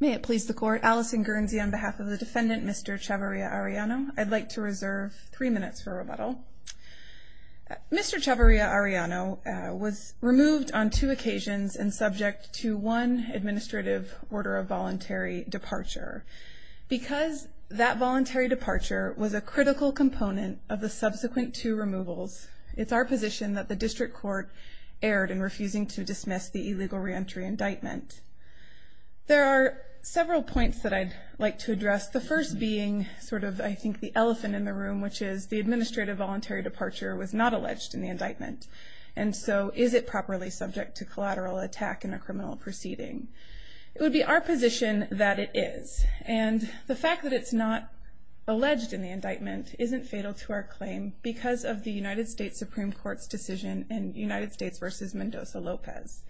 May it please the court, Allison Guernsey on behalf of the defendant Mr. Chavarria-Arellano. I'd like to reserve three minutes for rebuttal. Mr. Chavarria-Arellano was removed on two occasions and subject to one administrative order of voluntary departure. Because that voluntary departure was a critical component of the subsequent two removals, it's our position that the district court erred in refusing to dismiss the illegal reentry indictment. There are several points that I'd like to address, the first being sort of I think the elephant in the room, which is the administrative voluntary departure was not alleged in the indictment. And so is it properly subject to collateral attack in a criminal proceeding? It would be our position that it is. And the fact that it's not alleged in the indictment isn't fatal to our claim because of the United States Supreme Court's decision in United States v. Mendoza-Lopez.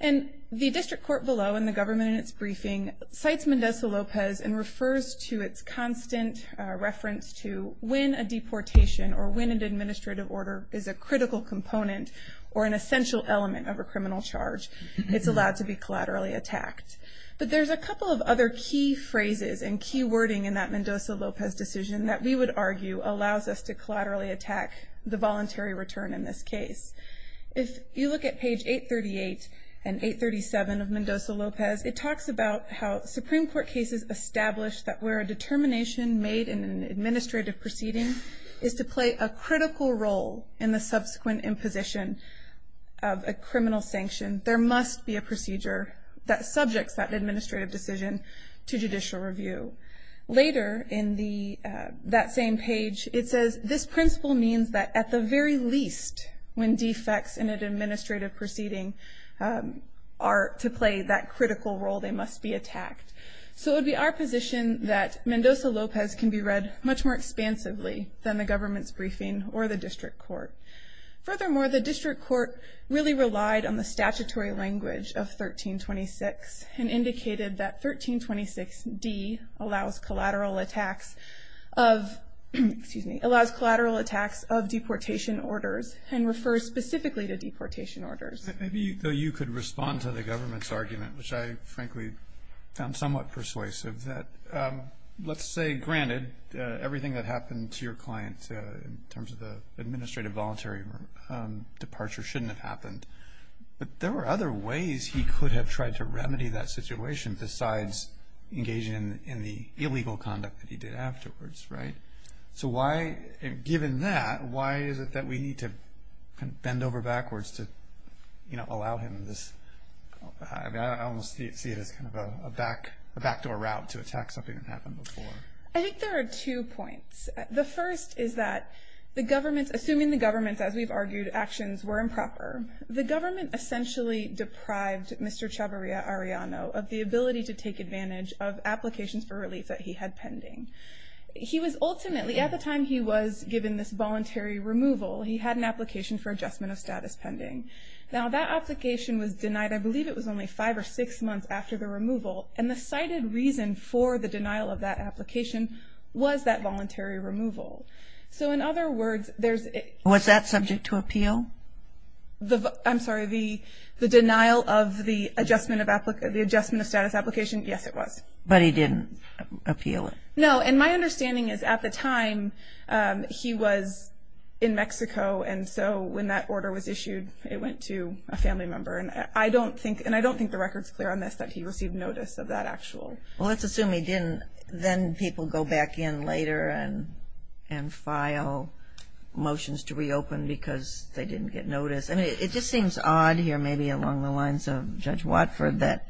And the district court below and the government in its briefing cites Mendoza-Lopez and refers to its constant reference to when a deportation or when an administrative order is a critical component or an essential element of a criminal charge, it's allowed to be collaterally attacked. But there's a couple of other key phrases and key wording in that Mendoza-Lopez decision that we would argue allows us to collaterally attack the voluntary return in this case. If you look at page 838 and 837 of Mendoza-Lopez, it talks about how Supreme Court cases establish that where a determination made in an administrative proceeding is to play a critical role in the subsequent imposition of a criminal sanction, there must be a procedure that subjects that administrative decision to judicial review. Later in that same page, it says this principle means that at the very least, when defects in an administrative proceeding are to play that critical role, they must be attacked. So it would be our position that Mendoza-Lopez can be read much more expansively than the government's briefing or the district court. Furthermore, the district court really relied on the statutory language of 1326 and indicated that 1326D allows collateral attacks of deportation orders and refers specifically to deportation orders. Maybe you could respond to the government's argument, which I frankly found somewhat persuasive, that let's say, granted, everything that happened to your client in terms of the administrative voluntary departure shouldn't have happened. But there were other ways he could have tried to remedy that situation besides engaging in the illegal conduct that he did afterwards, right? So given that, why is it that we need to bend over backwards to allow him this? I almost see it as kind of a backdoor route to attack something that happened before. I think there are two points. The first is that the government's, assuming the government's, as we've argued, actions were improper, the government essentially deprived Mr. Chavarria-Arellano of the ability to take advantage of applications for relief that he had pending. He was ultimately, at the time he was given this voluntary removal, he had an application for adjustment of status pending. Now that application was denied, I believe it was only five or six months after the removal, and the cited reason for the denial of that application was that voluntary removal. So in other words, there's a- Was that subject to appeal? I'm sorry, the denial of the adjustment of status application, yes, it was. But he didn't appeal it? No, and my understanding is at the time he was in Mexico, and so when that order was issued it went to a family member. And I don't think, and I don't think the record's clear on this, that he received notice of that actual. Well, let's assume he didn't. Then people go back in later and file motions to reopen because they didn't get notice. I mean, it just seems odd here, maybe along the lines of Judge Watford, that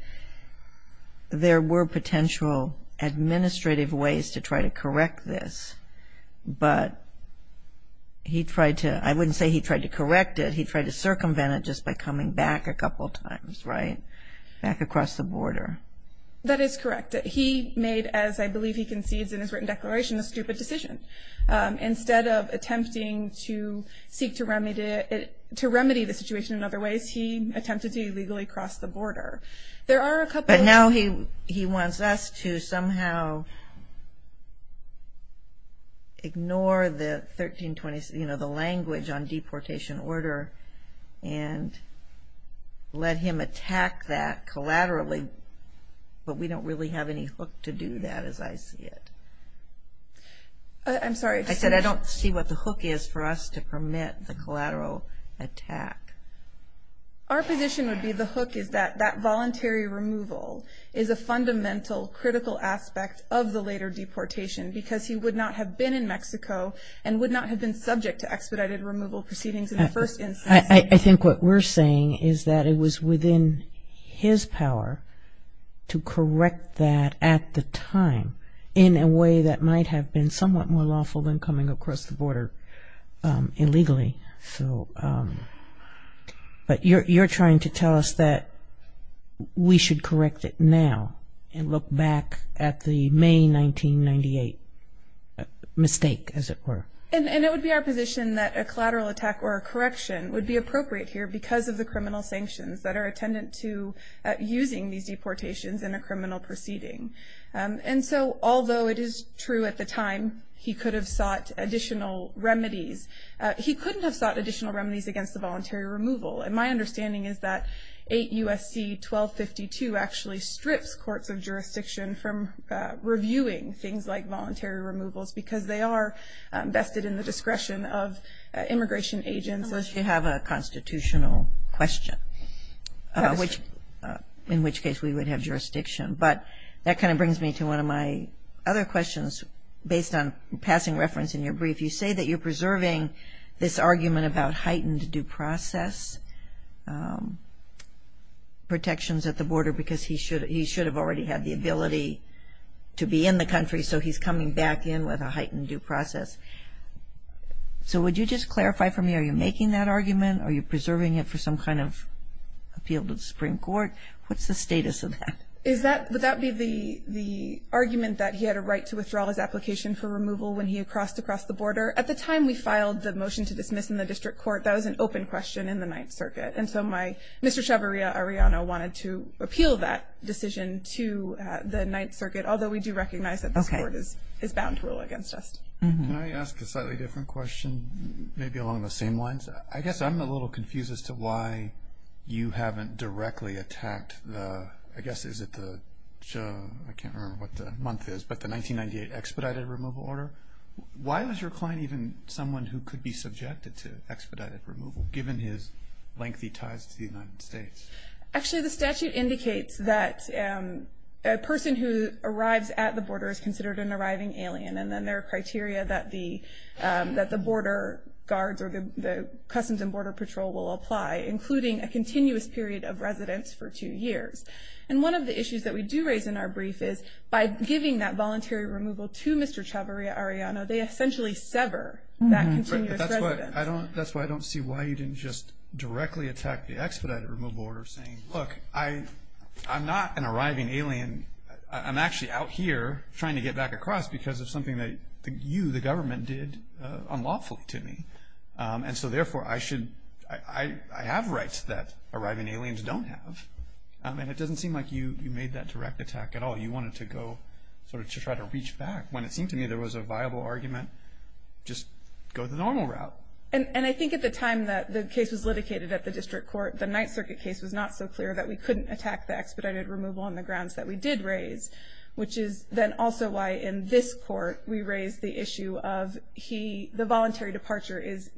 there were potential administrative ways to try to correct this. But he tried to, I wouldn't say he tried to correct it, he tried to circumvent it just by coming back a couple times, right, back across the border. That is correct. He made, as I believe he concedes in his written declaration, a stupid decision. Instead of attempting to seek to remedy the situation in other ways, he attempted to illegally cross the border. There are a couple- But now he wants us to somehow ignore the 1326, you know, the language on deportation order and let him attack that collaterally. But we don't really have any hook to do that as I see it. I'm sorry. I said I don't see what the hook is for us to permit the collateral attack. Our position would be the hook is that that voluntary removal is a fundamental critical aspect of the later deportation because he would not have been in Mexico and would not have been subject to expedited removal proceedings in the first instance. I think what we're saying is that it was within his power to correct that at the time in a way that might have been somewhat more lawful than coming across the border illegally. But you're trying to tell us that we should correct it now and look back at the May 1998 mistake, as it were. And it would be our position that a collateral attack or a correction would be appropriate here because of the criminal sanctions that are attendant to using these deportations in a criminal proceeding. And so although it is true at the time he could have sought additional remedies, he couldn't have sought additional remedies against the voluntary removal. And my understanding is that 8 U.S.C. 1252 actually strips courts of jurisdiction from reviewing things like voluntary removals because they are vested in the discretion of immigration agents. Unless you have a constitutional question, in which case we would have jurisdiction. But that kind of brings me to one of my other questions. And it's based on passing reference in your brief. You say that you're preserving this argument about heightened due process protections at the border because he should have already had the ability to be in the country, so he's coming back in with a heightened due process. So would you just clarify for me, are you making that argument? Are you preserving it for some kind of appeal to the Supreme Court? What's the status of that? Would that be the argument that he had a right to withdraw his application for removal when he crossed across the border? At the time we filed the motion to dismiss in the district court, that was an open question in the Ninth Circuit. And so Mr. Chavarria-Arellano wanted to appeal that decision to the Ninth Circuit, although we do recognize that this Court is bound to rule against us. Can I ask a slightly different question, maybe along the same lines? I guess I'm a little confused as to why you haven't directly attacked the, I guess is it the, I can't remember what the month is, but the 1998 expedited removal order. Why was your client even someone who could be subjected to expedited removal, given his lengthy ties to the United States? Actually, the statute indicates that a person who arrives at the border is considered an arriving alien, and then there are criteria that the border guards or the Customs and Border Patrol will apply, including a continuous period of residence for two years. And one of the issues that we do raise in our brief is, by giving that voluntary removal to Mr. Chavarria-Arellano, they essentially sever that continuous residence. But that's why I don't see why you didn't just directly attack the expedited removal order, saying, look, I'm not an arriving alien. I'm actually out here trying to get back across because of something that you, the government, did unlawfully to me. And so, therefore, I should, I have rights that arriving aliens don't have. I mean, it doesn't seem like you made that direct attack at all. You wanted to go sort of to try to reach back. When it seemed to me there was a viable argument, just go the normal route. And I think at the time that the case was litigated at the district court, the Ninth Circuit case was not so clear that we couldn't attack the expedited removal on the grounds that we did raise, which is then also why, in this court, we raised the issue of the voluntary departure is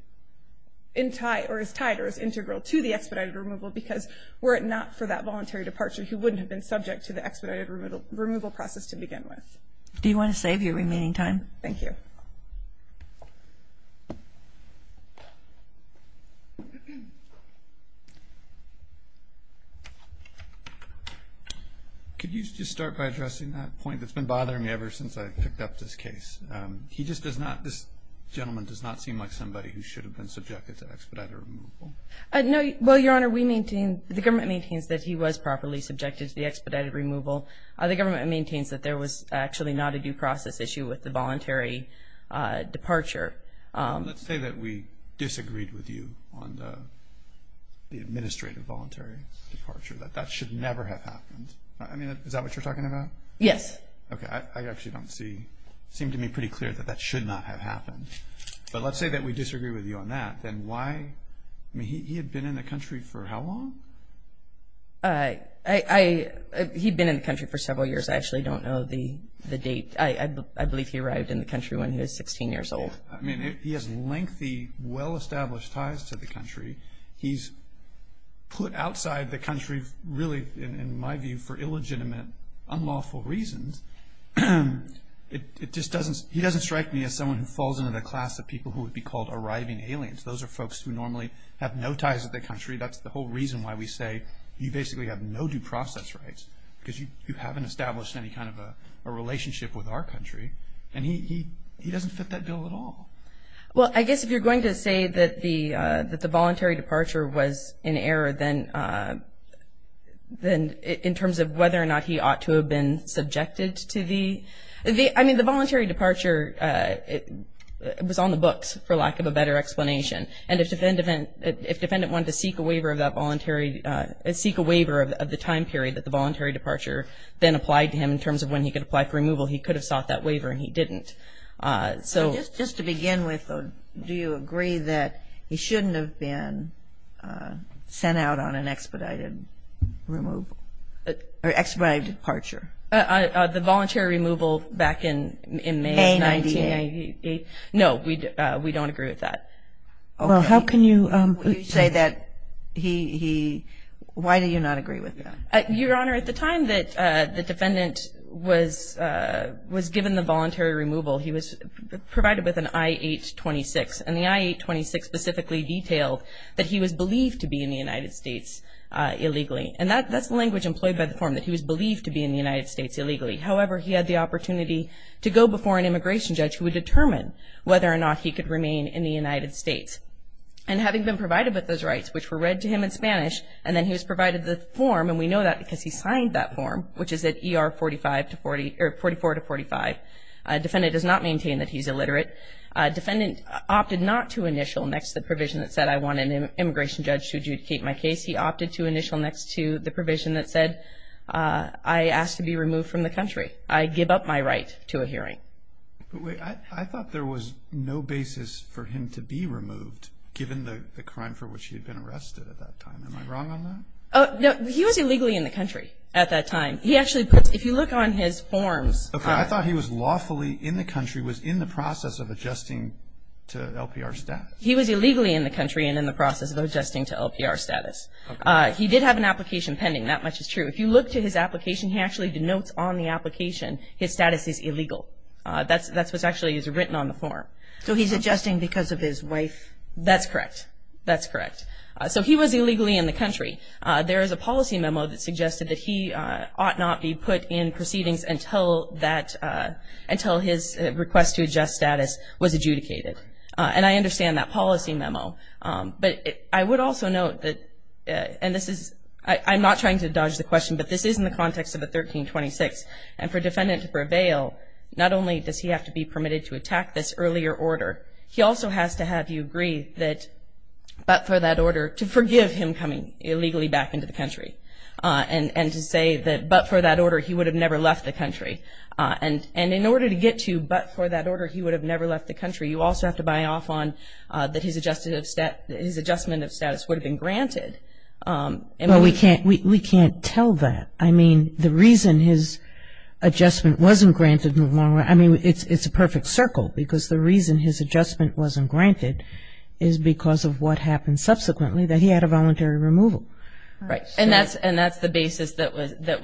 tied or is integral to the expedited removal because were it not for that voluntary departure, he wouldn't have been subject to the expedited removal process to begin with. Do you want to save your remaining time? Thank you. Thank you. Could you just start by addressing that point that's been bothering me ever since I picked up this case? He just does not, this gentleman does not seem like somebody who should have been subjected to expedited removal. No, well, Your Honor, we maintain, the government maintains that he was properly subjected to the expedited removal. The government maintains that there was actually not a due process issue with the voluntary departure. Let's say that we disagreed with you on the administrative voluntary departure, that that should never have happened. I mean, is that what you're talking about? Yes. Okay. I actually don't see, it seemed to me pretty clear that that should not have happened. But let's say that we disagree with you on that, then why, I mean, he had been in the country for how long? I, he'd been in the country for several years. I actually don't know the date. I believe he arrived in the country when he was 16 years old. I mean, he has lengthy, well-established ties to the country. He's put outside the country, really, in my view, for illegitimate, unlawful reasons. It just doesn't, he doesn't strike me as someone who falls into the class of people who would be called arriving aliens. Those are folks who normally have no ties to the country. That's the whole reason why we say you basically have no due process rights because you haven't established any kind of a relationship with our country. And he doesn't fit that bill at all. Well, I guess if you're going to say that the voluntary departure was in error, then in terms of whether or not he ought to have been subjected to the, I mean, the voluntary departure, it was on the books, for lack of a better explanation. And if the defendant wanted to seek a waiver of that voluntary, seek a waiver of the time period that the voluntary departure then applied to him in terms of when he could apply for removal, he could have sought that waiver, and he didn't. So just to begin with, do you agree that he shouldn't have been sent out on an expedited removal or expedited departure? May 1998. No, we don't agree with that. Well, how can you say that he, why do you not agree with that? Your Honor, at the time that the defendant was given the voluntary removal, he was provided with an I-826. And the I-826 specifically detailed that he was believed to be in the United States illegally. And that's the language employed by the form, that he was believed to be in the United States illegally. However, he had the opportunity to go before an immigration judge who would determine whether or not he could remain in the United States. And having been provided with those rights, which were read to him in Spanish, and then he was provided the form, and we know that because he signed that form, which is at ER 44-45. Defendant does not maintain that he's illiterate. Defendant opted not to initial next to the provision that said, I want an immigration judge to adjudicate my case. He opted to initial next to the provision that said, I ask to be removed from the country. I give up my right to a hearing. But wait, I thought there was no basis for him to be removed, given the crime for which he had been arrested at that time. Am I wrong on that? No, he was illegally in the country at that time. He actually puts, if you look on his forms. Okay, I thought he was lawfully in the country, was in the process of adjusting to LPR status. He was illegally in the country and in the process of adjusting to LPR status. He did have an application pending, that much is true. If you look to his application, he actually denotes on the application his status is illegal. That's what's actually written on the form. So he's adjusting because of his wife? That's correct. That's correct. So he was illegally in the country. There is a policy memo that suggested that he ought not be put in proceedings until that, until his request to adjust status was adjudicated. And I understand that policy memo. But I would also note that, and this is, I'm not trying to dodge the question, but this is in the context of a 1326. And for a defendant to prevail, not only does he have to be permitted to attack this earlier order, he also has to have you agree that, but for that order, to forgive him coming illegally back into the country. And to say that, but for that order, he would have never left the country. And in order to get to, but for that order, he would have never left the country, you also have to buy off on that his adjustment of status would have been granted. Well, we can't tell that. I mean, the reason his adjustment wasn't granted in the long run, I mean, it's a perfect circle, because the reason his adjustment wasn't granted is because of what happened subsequently, that he had a voluntary removal. Right. And that's the basis that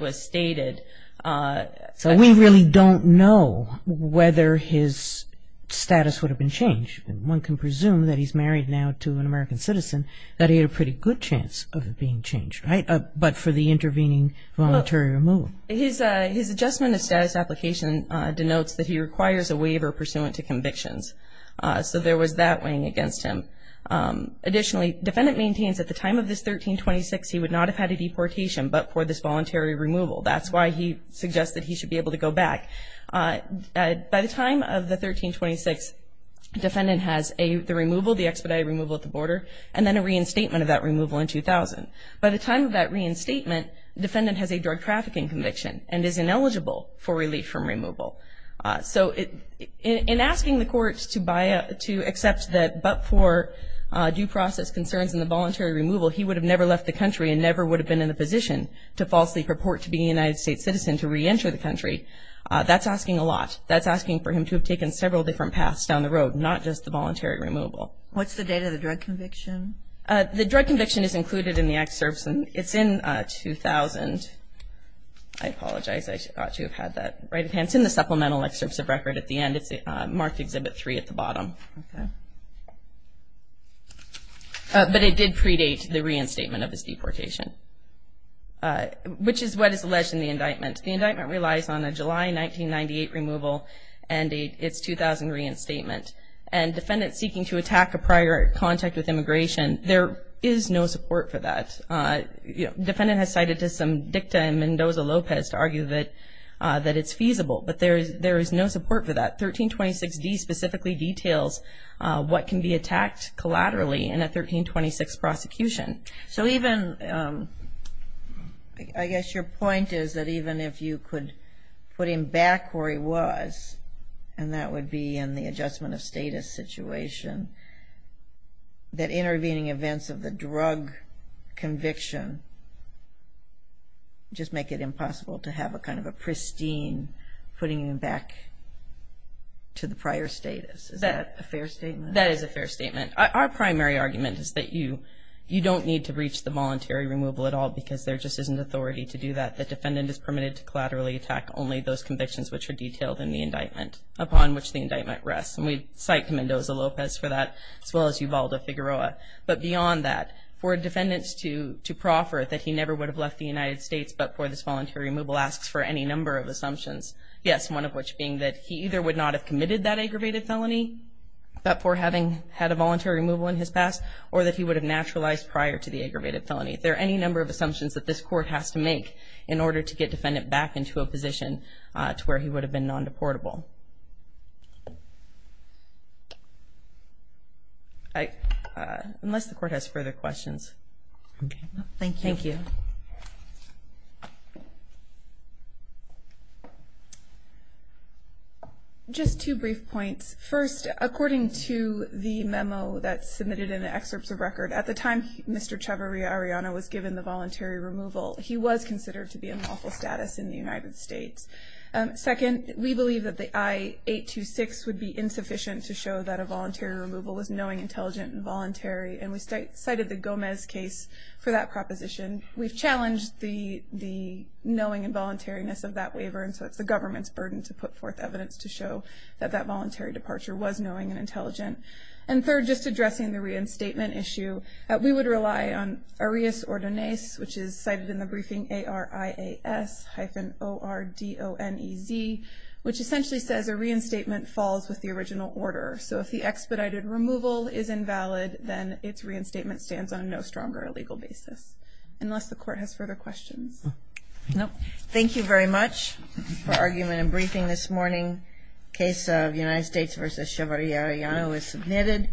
was stated. So we really don't know whether his status would have been changed. One can presume that he's married now to an American citizen, that he had a pretty good chance of it being changed, right? But for the intervening voluntary removal. His adjustment of status application denotes that he requires a waiver pursuant to convictions. So there was that weighing against him. Additionally, defendant maintains at the time of this 1326, he would not have had a deportation but for this voluntary removal. That's why he suggests that he should be able to go back. By the time of the 1326, defendant has the removal, the expedited removal at the border, and then a reinstatement of that removal in 2000. By the time of that reinstatement, defendant has a drug trafficking conviction and is ineligible for relief from removal. So in asking the courts to accept that but for due process concerns and the voluntary removal, he would have never left the country and never would have been in a position to falsely purport to being a United States citizen to reenter the country. That's asking a lot. That's asking for him to have taken several different paths down the road, not just the voluntary removal. What's the date of the drug conviction? The drug conviction is included in the excerpts. It's in 2000. I apologize. I ought to have had that right of hand. It's in the supplemental excerpts of record at the end. It's marked Exhibit 3 at the bottom. Okay. But it did predate the reinstatement of his deportation, which is what is alleged in the indictment. The indictment relies on a July 1998 removal and its 2000 reinstatement. And defendant seeking to attack a prior contact with immigration, there is no support for that. Defendant has cited some dicta in Mendoza-Lopez to argue that it's feasible, but there is no support for that. 1326D specifically details what can be attacked collaterally in a 1326 prosecution. So even, I guess your point is that even if you could put him back where he was, and that would be in the adjustment of status situation, that intervening events of the drug conviction just make it impossible to have a kind of a pristine and putting him back to the prior status. Is that a fair statement? That is a fair statement. Our primary argument is that you don't need to breach the voluntary removal at all because there just isn't authority to do that. The defendant is permitted to collaterally attack only those convictions which are detailed in the indictment upon which the indictment rests. And we cite Mendoza-Lopez for that as well as Yuvalda Figueroa. But beyond that, for defendants to proffer that he never would have left the United States but for this voluntary removal asks for any number of assumptions. Yes, one of which being that he either would not have committed that aggravated felony but for having had a voluntary removal in his past or that he would have naturalized prior to the aggravated felony. There are any number of assumptions that this court has to make in order to get defendant back into a position to where he would have been non-deportable. Unless the court has further questions. Okay. Thank you. Thank you. Just two brief points. First, according to the memo that's submitted in the excerpts of record, at the time Mr. Chavarria-Arellano was given the voluntary removal, he was considered to be in lawful status in the United States. Second, we believe that the I-826 would be insufficient to show that a voluntary removal was knowing, intelligent, and voluntary. And we cited the Gomez case for that proposition. We've challenged the knowing and voluntariness of that waiver and so it's the government's burden to put forth evidence to show that that voluntary departure was knowing and intelligent. And third, just addressing the reinstatement issue, we would rely on arias ordinais, which is cited in the briefing, A-R-I-A-S hyphen O-R-D-O-N-E-Z, which essentially says a reinstatement falls with the original order. So if the expedited removal is invalid, then its reinstatement stands on no stronger legal basis, unless the court has further questions. Thank you very much for argument and briefing this morning. Case of United States v. Chavarria-Arellano is submitted.